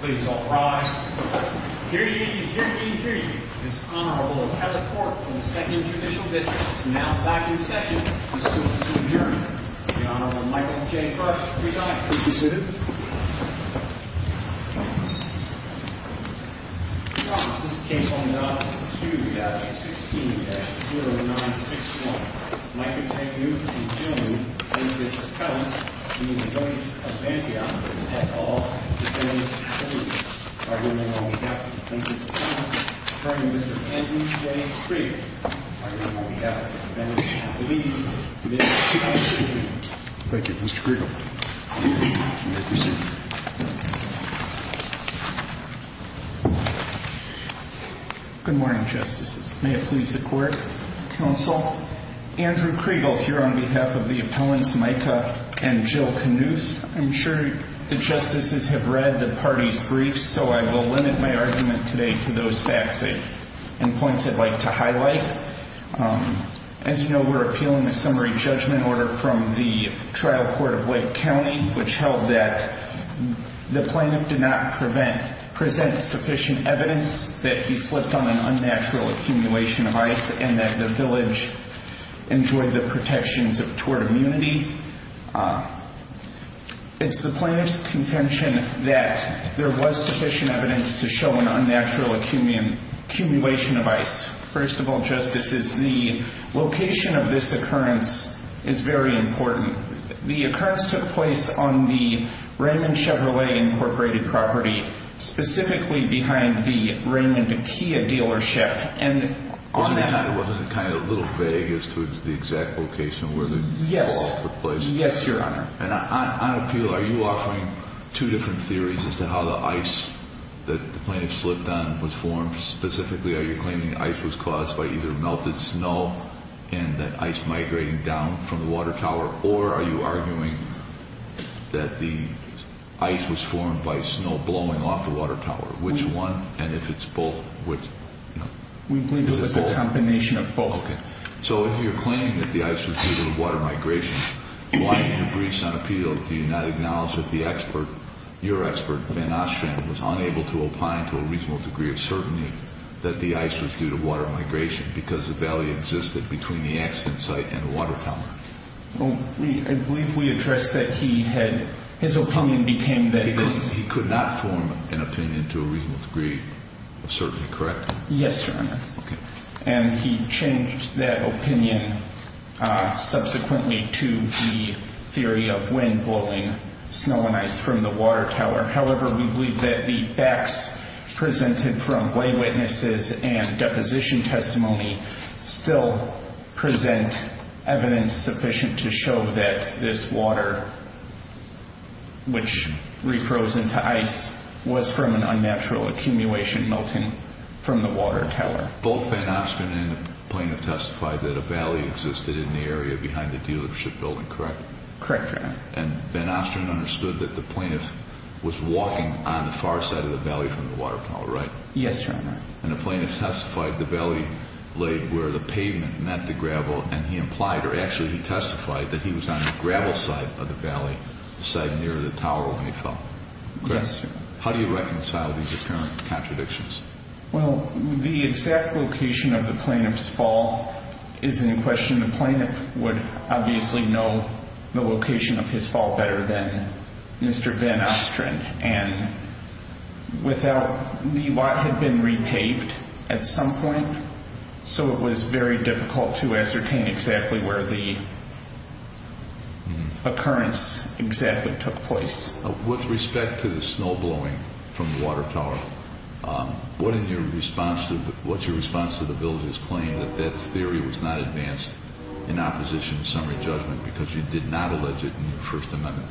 Please all rise. Period, period, period. This Honorable Kelly Cork, from the 2nd Judicial District, is now back in session. Mr. Sojourner. The Honorable Michael J. Kersh, presiding. Please be seated. Your Honor, this is case number 9-2-16-0961. Michael K. Knuth and Jim Winters-Townes, from the Village of Antioch, have all been released. On behalf of the Winters-Townes, I refer you to Mr. Kenton J. Scree, on behalf of the Village of Antioch. You may be seated. Thank you, Mr. Gregory. You may be seated. Good morning, Justices. May it please the Court, Counsel. Andrew Kriegel, here on behalf of the Appellants Micah and Jill Knuth. I'm sure the Justices have read the parties' briefs, so I will limit my argument today to those facts and points I'd like to highlight. As you know, we're appealing a summary judgment order from the trial court of Wake County, which held that the plaintiff did not present sufficient evidence that he slipped on an unnatural accumulation of ice and that the village enjoyed the protections of tort immunity. It's the plaintiff's contention that there was sufficient evidence to show an unnatural accumulation of ice. First of all, Justices, the location of this occurrence is very important. The occurrence took place on the Raymond Chevrolet Incorporated property, specifically behind the Raymond Kia dealership. Wasn't it kind of a little vague as to the exact location where the fall took place? Yes, Your Honor. On appeal, are you offering two different theories as to how the ice that the plaintiff slipped on was formed? Specifically, are you claiming the ice was caused by either melted snow and that ice migrating down from the water tower? Or are you arguing that the ice was formed by snow blowing off the water tower? Which one? And if it's both, which? We believe it was a combination of both. Okay. So if you're claiming that the ice was due to the water migration, why in your briefs on appeal do you not acknowledge that the expert, your expert, Ben Ostrand, was unable to opine to a reasonable degree of certainty that the ice was due to water migration because the valley existed between the accident site and the water tower? I believe we addressed that he had, his opinion became that it was. He could not form an opinion to a reasonable degree of certainty, correct? Yes, Your Honor. Okay. And he changed that opinion subsequently to the theory of wind blowing snow and ice from the water tower. However, we believe that the facts presented from lay witnesses and deposition testimony still present evidence sufficient to show that this water, which refroze into ice, was from an unnatural accumulation melting from the water tower. Both Ben Ostrand and the plaintiff testified that a valley existed in the area behind the dealership building, correct? Correct, Your Honor. And Ben Ostrand understood that the plaintiff was walking on the far side of the valley from the water tower, right? Yes, Your Honor. And the plaintiff testified the valley laid where the pavement met the gravel, and he implied or actually he testified that he was on the gravel side of the valley, the side near the tower when he fell. Yes, Your Honor. How do you reconcile these apparent contradictions? Well, the exact location of the plaintiff's fall is in question. The plaintiff would obviously know the location of his fall better than Mr. Ben Ostrand, and without the lot had been repaved at some point, so it was very difficult to ascertain exactly where the occurrence exactly took place. With respect to the snow blowing from the water tower, what's your response to the village's claim that that theory was not advanced in opposition to summary judgment because you did not allege it in your First Amendment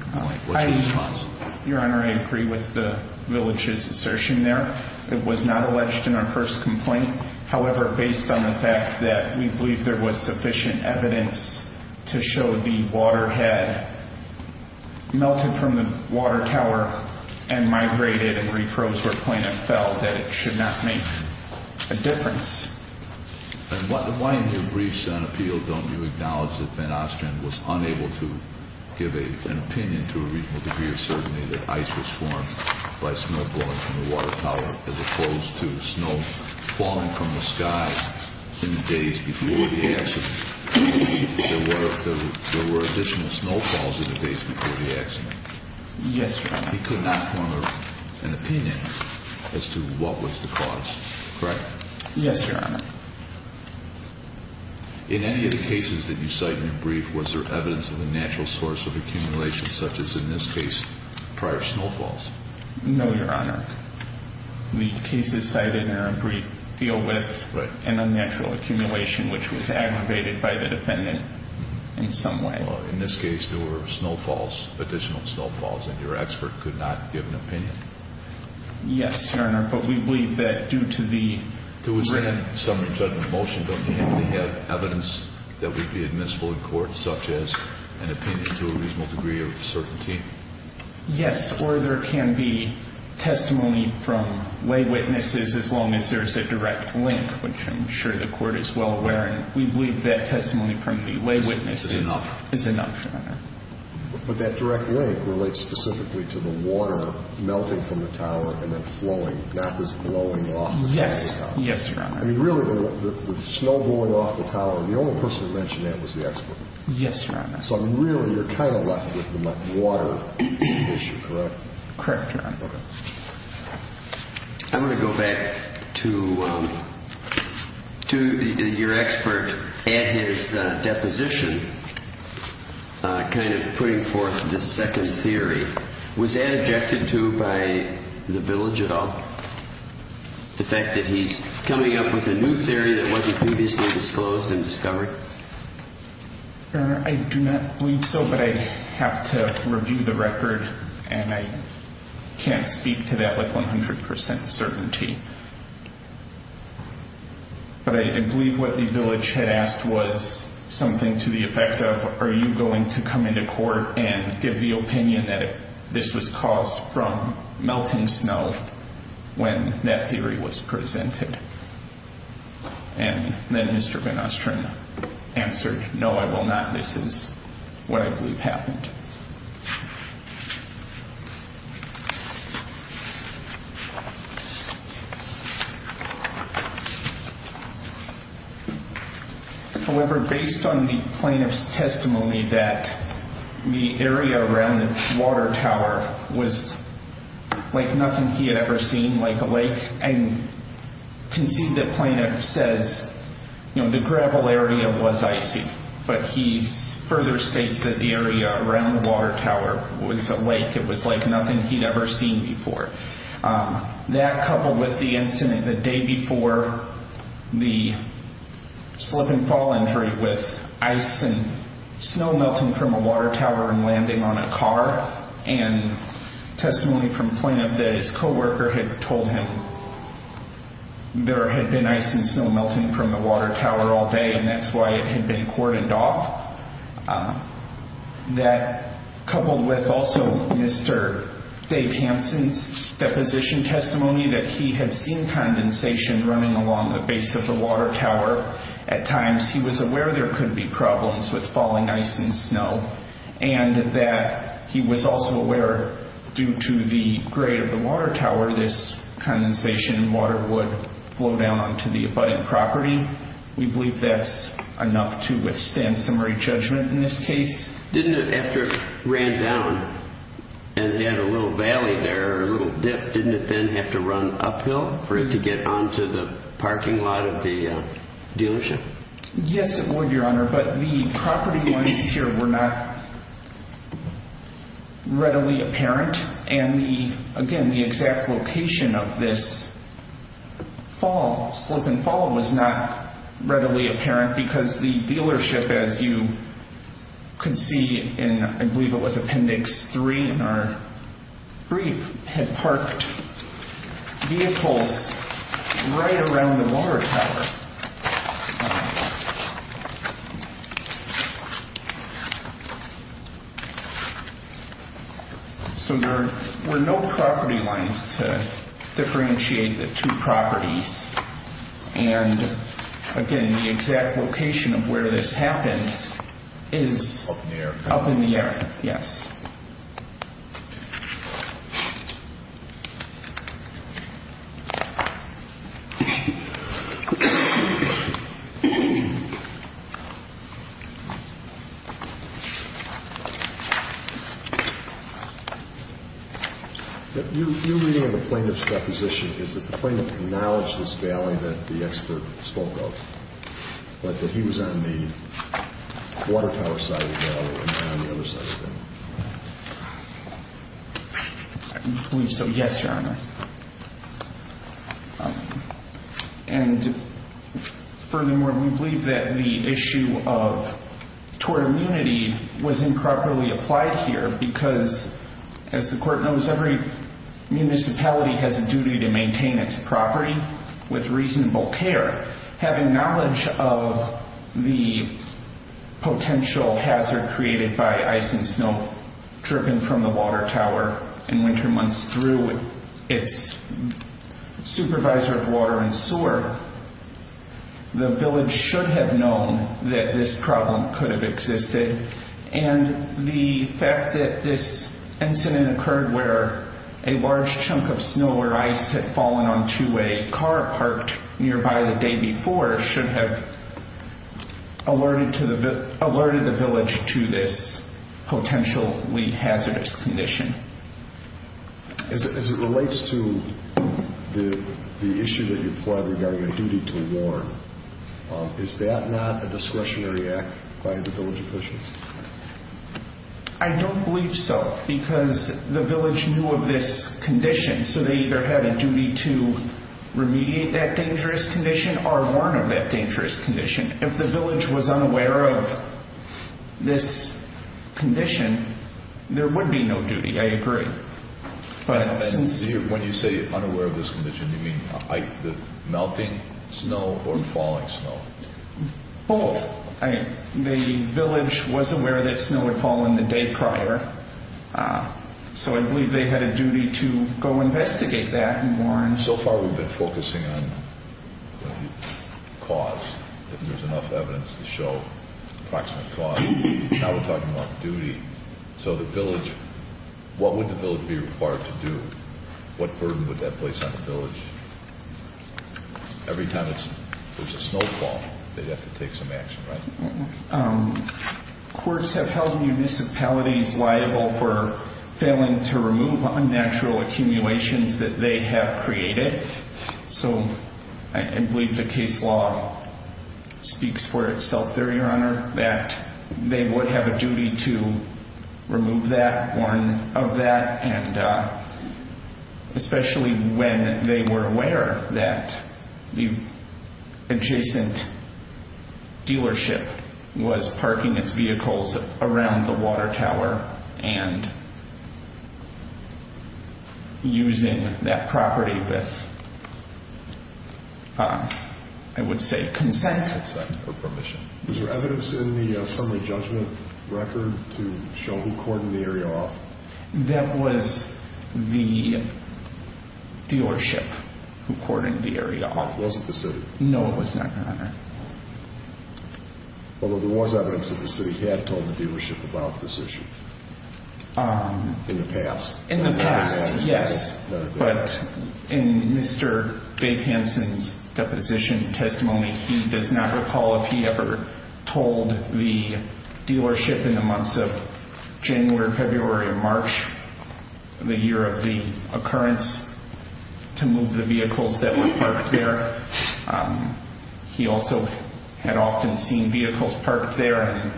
complaint? What's your response? Your Honor, I agree with the village's assertion there. It was not alleged in our first complaint. However, based on the fact that we believe there was sufficient evidence to show the water had melted from the water tower and migrated and reprosed where the plaintiff fell, that it should not make a difference. And why in your briefs on appeal don't you acknowledge that Ben Ostrand was unable to give an opinion to a reasonable degree of certainty that ice was formed by snow blowing from the water tower as opposed to snow falling from the sky in the days before the accident? There were additional snowfalls in the days before the accident. Yes, Your Honor. He could not form an opinion as to what was the cause, correct? Yes, Your Honor. In any of the cases that you cite in your brief, was there evidence of a natural source of accumulation such as in this case prior snowfalls? No, Your Honor. The cases cited in our brief deal with an unnatural accumulation which was aggravated by the defendant in some way. Well, in this case there were snowfalls, additional snowfalls, and your expert could not give an opinion. Yes, Your Honor, but we believe that due to the... There was then some judgment motion. Don't you think we have evidence that would be admissible in court such as an opinion to a reasonable degree of certainty? Yes, or there can be testimony from lay witnesses as long as there is a direct link, which I'm sure the Court is well aware of. We believe that testimony from the lay witnesses is enough, Your Honor. But that direct link relates specifically to the water melting from the tower and then flowing, not just blowing off. Yes, Your Honor. I mean, really, the snow blowing off the tower, the only person who mentioned that was the expert. Yes, Your Honor. So, I mean, really, you're kind of left with the water issue, correct? Correct, Your Honor. Okay. I'm going to go back to your expert and his deposition kind of putting forth this second theory. Was that objected to by the village at all, the fact that he's coming up with a new theory that wasn't previously disclosed and discovered? Your Honor, I do not believe so, but I have to review the record, and I can't speak to that with 100% certainty. But I believe what the village had asked was something to the effect of, are you going to come into court and give the opinion that this was caused from melting snow when that theory was presented? And then Mr. Benostrin answered, no, I will not. This is what I believe happened. However, based on the plaintiff's testimony that the area around the water tower was like nothing he had ever seen, like a lake, and concede the plaintiff says, you know, the gravel area was icy, but he further states that the area around the water tower was a lake. It was like nothing he'd ever seen before. That, coupled with the incident the day before the slip and fall injury with ice and snow melting from a water tower and landing on a car, and testimony from the plaintiff that his co-worker had told him there had been ice and snow melting from the water tower all day, and that's why it had been cordoned off. That, coupled with also Mr. Dave Hansen's deposition testimony that he had seen condensation running along the base of the water tower at times, he was aware there could be problems with falling ice and snow, and that he was also aware due to the grade of the water tower this condensation and water would flow down onto the abutment property. We believe that's enough to withstand summary judgment in this case. Didn't it, after it ran down and had a little valley there, a little dip, didn't it then have to run uphill for it to get onto the parking lot of the dealership? Yes, it would, Your Honor, but the property lines here were not readily apparent, and again, the exact location of this fall, slip and fall, was not readily apparent because the dealership, as you can see in, I believe it was Appendix 3 in our brief, had parked vehicles right around the water tower. So there were no property lines to differentiate the two properties, and again, the exact location of where this happened is up in the air, yes. Your reading of the plaintiff's deposition, is that the plaintiff acknowledged this valley that the expert spoke of, but that he was on the water tower side of the valley and not on the other side of the valley? I believe so, yes, Your Honor. And furthermore, we believe that the issue of tort immunity was improperly applied here because, as the court knows, every municipality has a duty to maintain its property with reasonable care. Having knowledge of the potential hazard created by ice and snow dripping from the water tower in winter months through its supervisor of water and sewer, the village should have known that this problem could have existed, and the fact that this incident occurred where a large chunk of snow or ice had fallen onto a car parked nearby the day before should have alerted the village to this potentially hazardous condition. As it relates to the issue that you plied regarding a duty to warn, is that not a discretionary act by the village officials? I don't believe so, because the village knew of this condition, so they either had a duty to remediate that dangerous condition or warn of that dangerous condition. If the village was unaware of this condition, there would be no duty, I agree. When you say unaware of this condition, you mean melting snow or falling snow? Both. The village was aware that snow had fallen the day prior, so I believe they had a duty to go investigate that and warn. So far we've been focusing on cause, if there's enough evidence to show approximate cause. Now we're talking about duty. So the village, what would the village be required to do? What burden would that place on the village? Every time there's a snowfall, they'd have to take some action, right? Courts have held municipalities liable for failing to remove unnatural accumulations that they have created. So I believe the case law speaks for itself there, Your Honor, that they would have a duty to remove that, warn of that, and especially when they were aware that the adjacent dealership was parking its vehicles around the water tower and using that property with, I would say, consent or permission. Was there evidence in the summary judgment record to show who cordoned the area off? That was the dealership who cordoned the area off. It wasn't the city? No, it was not, Your Honor. Although there was evidence that the city had told the dealership about this issue in the past. In the past, yes. But in Mr. Bake-Hanson's deposition testimony, he does not recall if he ever told the dealership in the months of January, February, and March, the year of the occurrence, to move the vehicles that were parked there. He also had often seen vehicles parked there and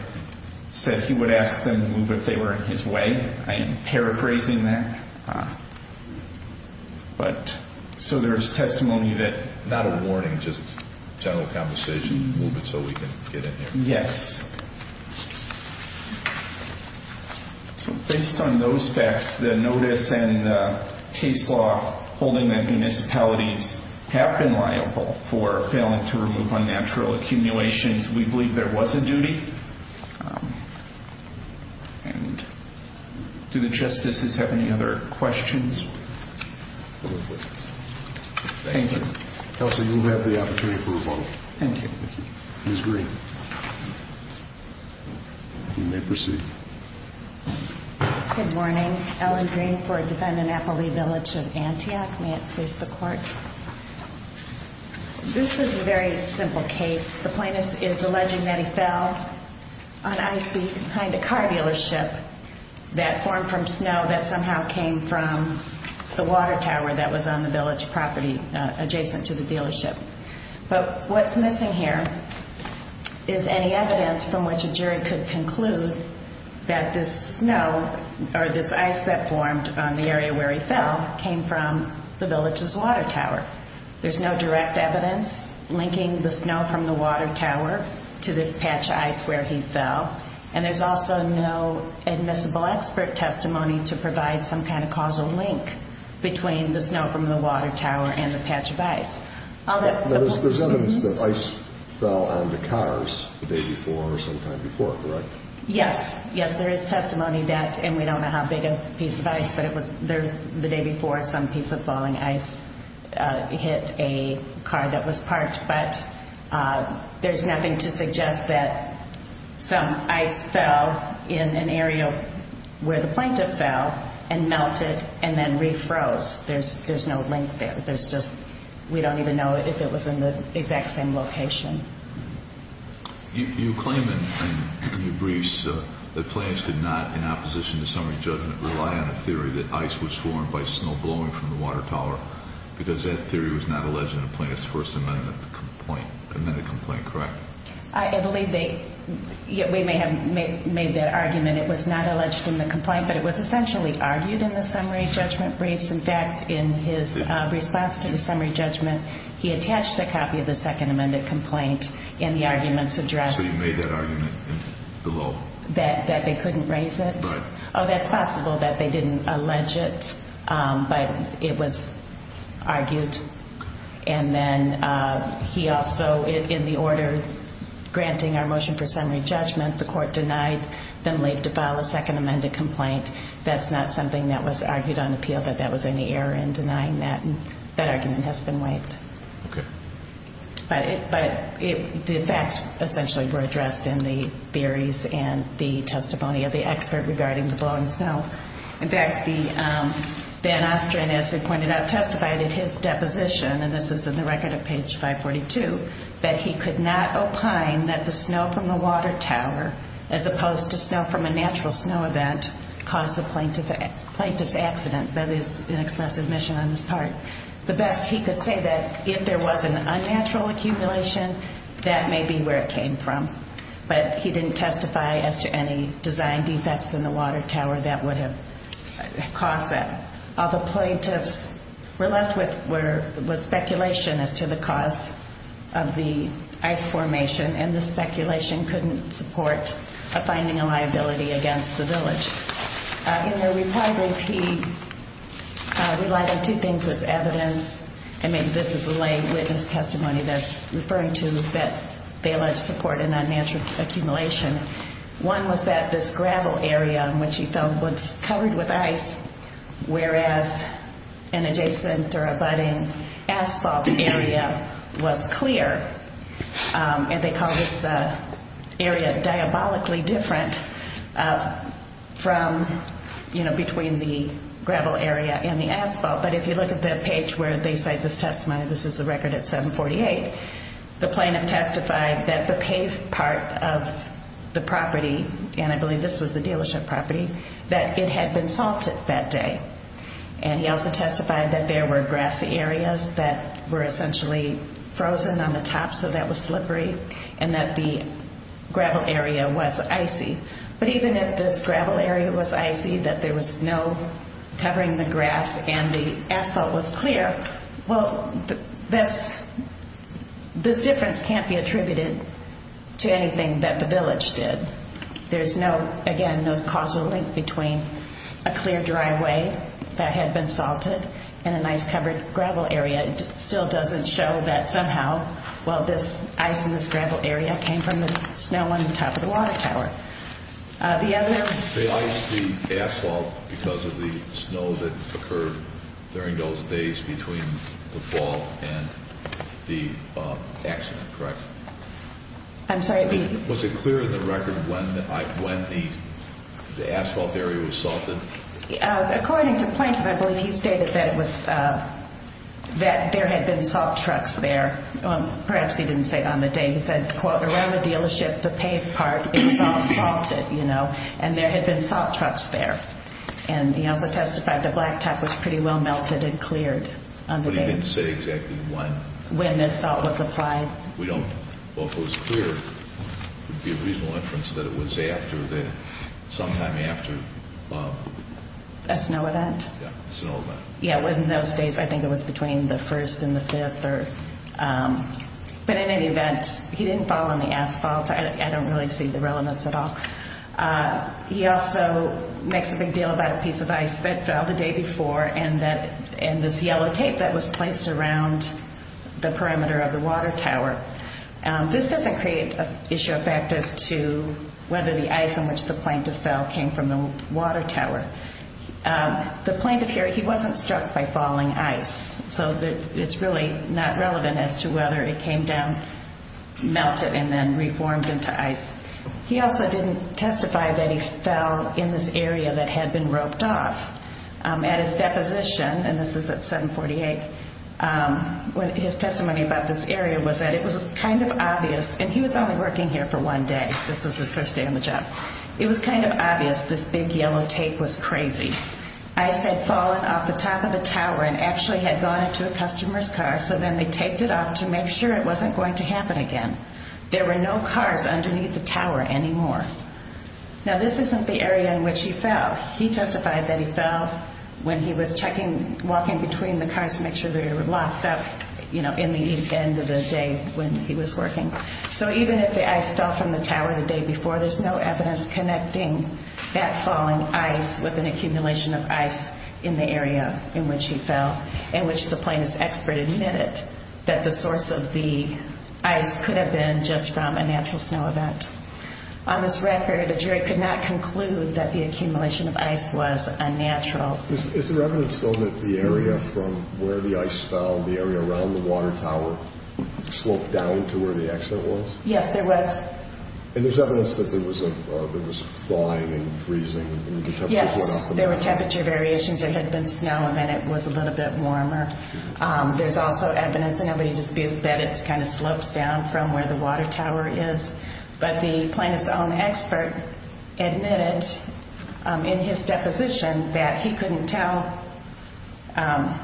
said he would ask them to move if they were in his way. I am paraphrasing that. But so there is testimony of it. Not a warning, just general conversation, move it so we can get in there. Yes. So based on those facts, the notice and the case law holding that municipalities have been liable for failing to remove unnatural accumulations, we believe there was a duty. And do the Justices have any other questions? No questions. Thank you. Elsie, you have the opportunity for a vote. Thank you. Ms. Green, you may proceed. Good morning. Ellen Green for Defendant Appleby Village of Antioch. May it please the Court. This is a very simple case. The plaintiff is alleging that he fell on ice behind a car dealership that formed from snow that somehow came from the water tower that was on the village property adjacent to the dealership. But what's missing here is any evidence from which a jury could conclude that this snow or this ice that formed on the area where he fell came from the village's water tower. There's no direct evidence linking the snow from the water tower to this patch of ice where he fell. And there's also no admissible expert testimony to provide some kind of causal link between the snow from the water tower and the patch of ice. There's evidence that ice fell on the cars the day before or sometime before, correct? Yes. Yes, there is testimony that, and we don't know how big a piece of ice, but it was the day before some piece of falling ice hit a car that was parked. But there's nothing to suggest that some ice fell in an area where the plaintiff fell and melted and then refroze. There's no link there. There's just, we don't even know if it was in the exact same location. You claim in your briefs that plaintiffs did not, in opposition to summary judgment, rely on a theory that ice was formed by snow blowing from the water tower because that theory was not alleged in the plaintiff's First Amendment complaint, amended complaint, correct? I believe they, we may have made that argument. It was not alleged in the complaint, but it was essentially argued in the summary judgment briefs. In fact, in his response to the summary judgment, he attached a copy of the Second Amendment complaint in the argument's address. So you made that argument in the law? That they couldn't raise it? Right. Oh, that's possible that they didn't allege it, but it was argued. And then he also, in the order granting our motion for summary judgment, the court denied them leave to file a Second Amendment complaint. That's not something that was argued on appeal, that that was any error in denying that, and that argument has been waived. Okay. But the facts essentially were addressed in the theories and the testimony of the expert regarding the blowing snow. In fact, Ben Ostrin, as I pointed out, testified in his deposition, and this is in the record of page 542, that he could not opine that the snow from the water tower, as opposed to snow from a natural snow event, caused the plaintiff's accident. That is an expressive mission on his part. The best he could say that if there was an unnatural accumulation, that may be where it came from. But he didn't testify as to any design defects in the water tower that would have caused that. All the plaintiffs were left with was speculation as to the cause of the ice formation, and the speculation couldn't support finding a liability against the village. In their report, he relied on two things as evidence. I mean, this is a lay witness testimony that's referring to that they allege support in unnatural accumulation. One was that this gravel area in which he fell was covered with ice, whereas an adjacent or abutting asphalt area was clear. And they called this area diabolically different from, you know, between the gravel area and the asphalt. But if you look at the page where they cite this testimony, this is the record at 748, the plaintiff testified that the paved part of the property, and I believe this was the dealership property, that it had been salted that day. And he also testified that there were grassy areas that were essentially frozen on the top, so that was slippery, and that the gravel area was icy. But even if this gravel area was icy, that there was no covering the grass and the asphalt was clear, well, this difference can't be attributed to anything that the village did. There's no, again, no causal link between a clear driveway that had been salted and an ice-covered gravel area. It still doesn't show that somehow, well, this ice in this gravel area came from the snow on top of the water tower. They iced the asphalt because of the snow that occurred during those days between the fall and the accident, correct? I'm sorry. Was it clear in the record when the asphalt area was salted? According to Plaintiff, I believe he stated that there had been salt trucks there. Perhaps he didn't say on the day. He said, quote, around the dealership, the paved part, it was all salted, you know, and there had been salt trucks there. And he also testified the blacktop was pretty well melted and cleared on the day. But he didn't say exactly when. When the salt was applied. We don't, well, if it was clear, it would be a reasonable inference that it was after the, sometime after. That's no event. Yeah, it's no event. Yeah, well, in those days, I think it was between the 1st and the 5th. But in any event, he didn't fall on the asphalt. I don't really see the relevance at all. He also makes a big deal about a piece of ice that fell the day before and this yellow tape that was placed around the perimeter of the water tower. This doesn't create an issue of fact as to whether the ice on which the plaintiff fell came from the water tower. The plaintiff here, he wasn't struck by falling ice. So it's really not relevant as to whether it came down, melted, and then reformed into ice. He also didn't testify that he fell in this area that had been roped off. At his deposition, and this is at 748, his testimony about this area was that it was kind of obvious. And he was only working here for one day. This was his first day on the job. It was kind of obvious this big yellow tape was crazy. Ice had fallen off the top of the tower and actually had gone into a customer's car, so then they taped it off to make sure it wasn't going to happen again. There were no cars underneath the tower anymore. Now, this isn't the area in which he fell. He testified that he fell when he was checking, walking between the cars to make sure they were locked up, you know, in the end of the day when he was working. So even if the ice fell from the tower the day before, there's no evidence connecting that falling ice with an accumulation of ice in the area in which he fell, in which the plaintiff's expert admitted that the source of the ice could have been just from a natural snow event. On this record, a jury could not conclude that the accumulation of ice was unnatural. Is there evidence, though, that the area from where the ice fell, the area around the water tower, sloped down to where the accident was? Yes, there was. And there's evidence that there was thawing and freezing? Yes, there were temperature variations. There had been snow, and then it was a little bit warmer. There's also evidence, and nobody disputed, that it kind of slopes down from where the water tower is. But the plaintiff's own expert admitted in his deposition that he couldn't tell, that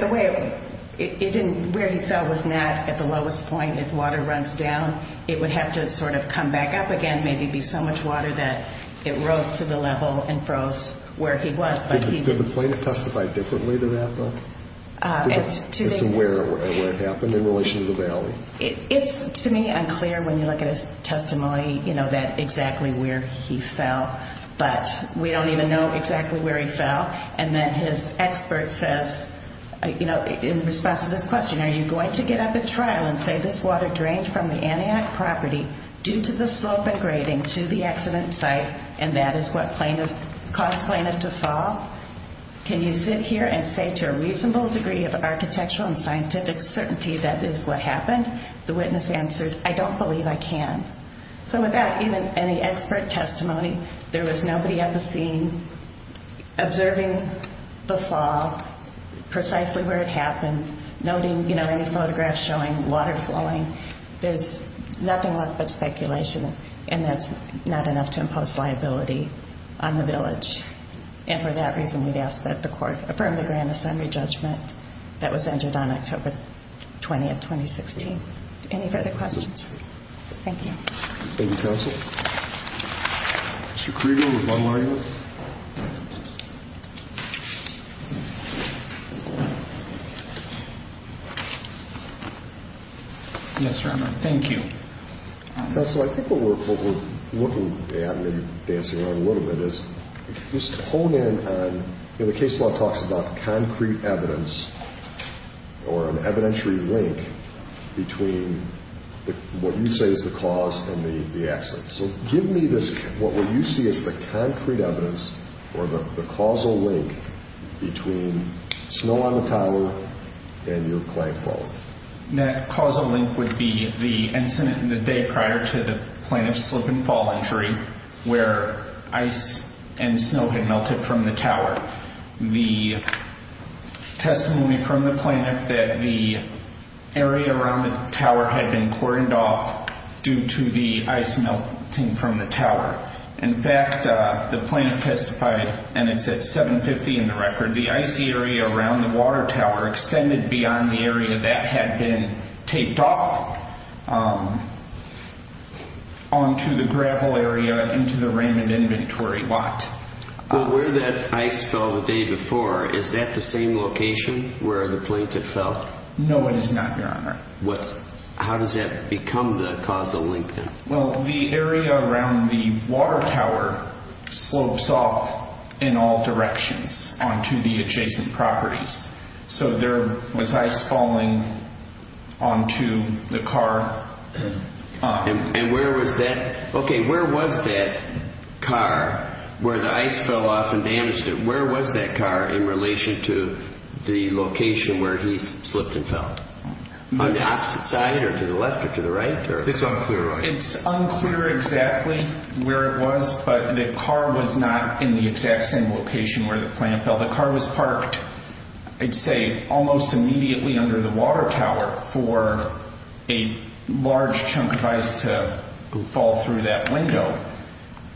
the way it didn't, where he fell was not at the lowest point. If water runs down, it would have to sort of come back up again, maybe be so much water that it rose to the level and froze where he was. Did the plaintiff testify differently to that, though, as to where it happened in relation to the valley? It's, to me, unclear when you look at his testimony, you know, that exactly where he fell. But we don't even know exactly where he fell. And then his expert says, you know, in response to this question, are you going to get up at trial and say this water drained from the Antioch property due to the slope and grading to the accident site, and that is what caused plaintiff to fall? Can you sit here and say to a reasonable degree of architectural and scientific certainty that is what happened? The witness answered, I don't believe I can. So without even any expert testimony, there was nobody at the scene observing the fall, precisely where it happened, noting, you know, any photographs showing water flowing. There's nothing left but speculation, and that's not enough to impose liability on the village. And for that reason, we'd ask that the court affirm the grand assembly judgment that was entered on October 20th, 2016. Any further questions? Thank you. Thank you, counsel. Mr. Krieger with One Lion. Yes, Your Honor. Thank you. Counsel, I think what we're looking at, and you're dancing around a little bit, is just to hone in on, you know, the case law talks about concrete evidence or an evidentiary link between what you say is the cause and the accident. So give me this, what you see as the concrete evidence or the causal link between snow on the tower and your client falling. That causal link would be the incident in the day prior to the plaintiff's slip and fall injury, where ice and snow had melted from the tower. The testimony from the plaintiff that the area around the tower had been cordoned off due to the ice melting from the tower. In fact, the plaintiff testified, and it's at 750 in the record, the icy area around the water tower extended beyond the area that had been taped off onto the gravel area into the Raymond Inventory lot. Well, where that ice fell the day before, is that the same location where the plaintiff fell? No, it is not, Your Honor. How does that become the causal link then? Well, the area around the water tower slopes off in all directions onto the adjacent properties. So there was ice falling onto the car. And where was that? Okay, where was that car where the ice fell off and damaged it? Where was that car in relation to the location where he slipped and fell? On the opposite side or to the left or to the right? It's on clear right. It's unclear exactly where it was, but the car was not in the exact same location where the plaintiff fell. The car was parked, I'd say, almost immediately under the water tower for a large chunk of ice to fall through that window.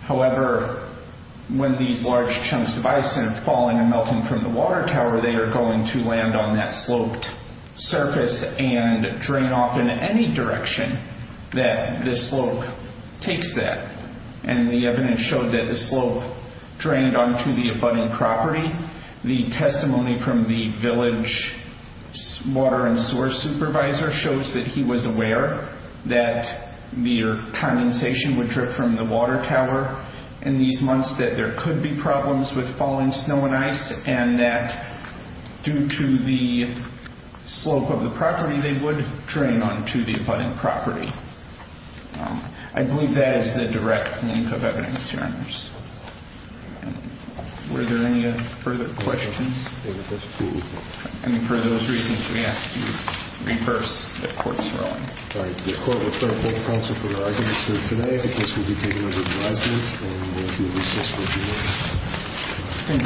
However, when these large chunks of ice end up falling and melting from the water tower, they are going to land on that sloped surface and drain off in any direction that this slope takes that. And the evidence showed that the slope drained onto the abutting property. The testimony from the village water and sewer supervisor shows that he was aware that the condensation would drip from the water tower in these months, that there could be problems with falling snow and ice, and that due to the slope of the property, they would drain onto the abutting property. I believe that is the direct link of evidence here. Were there any further questions? I mean, for those reasons, we ask you to be first if court is rolling. All right. The court will close court counsel for the rest of the hearing today. The case will be taken under advisement. And we will do a recess for adjournment. Thank you.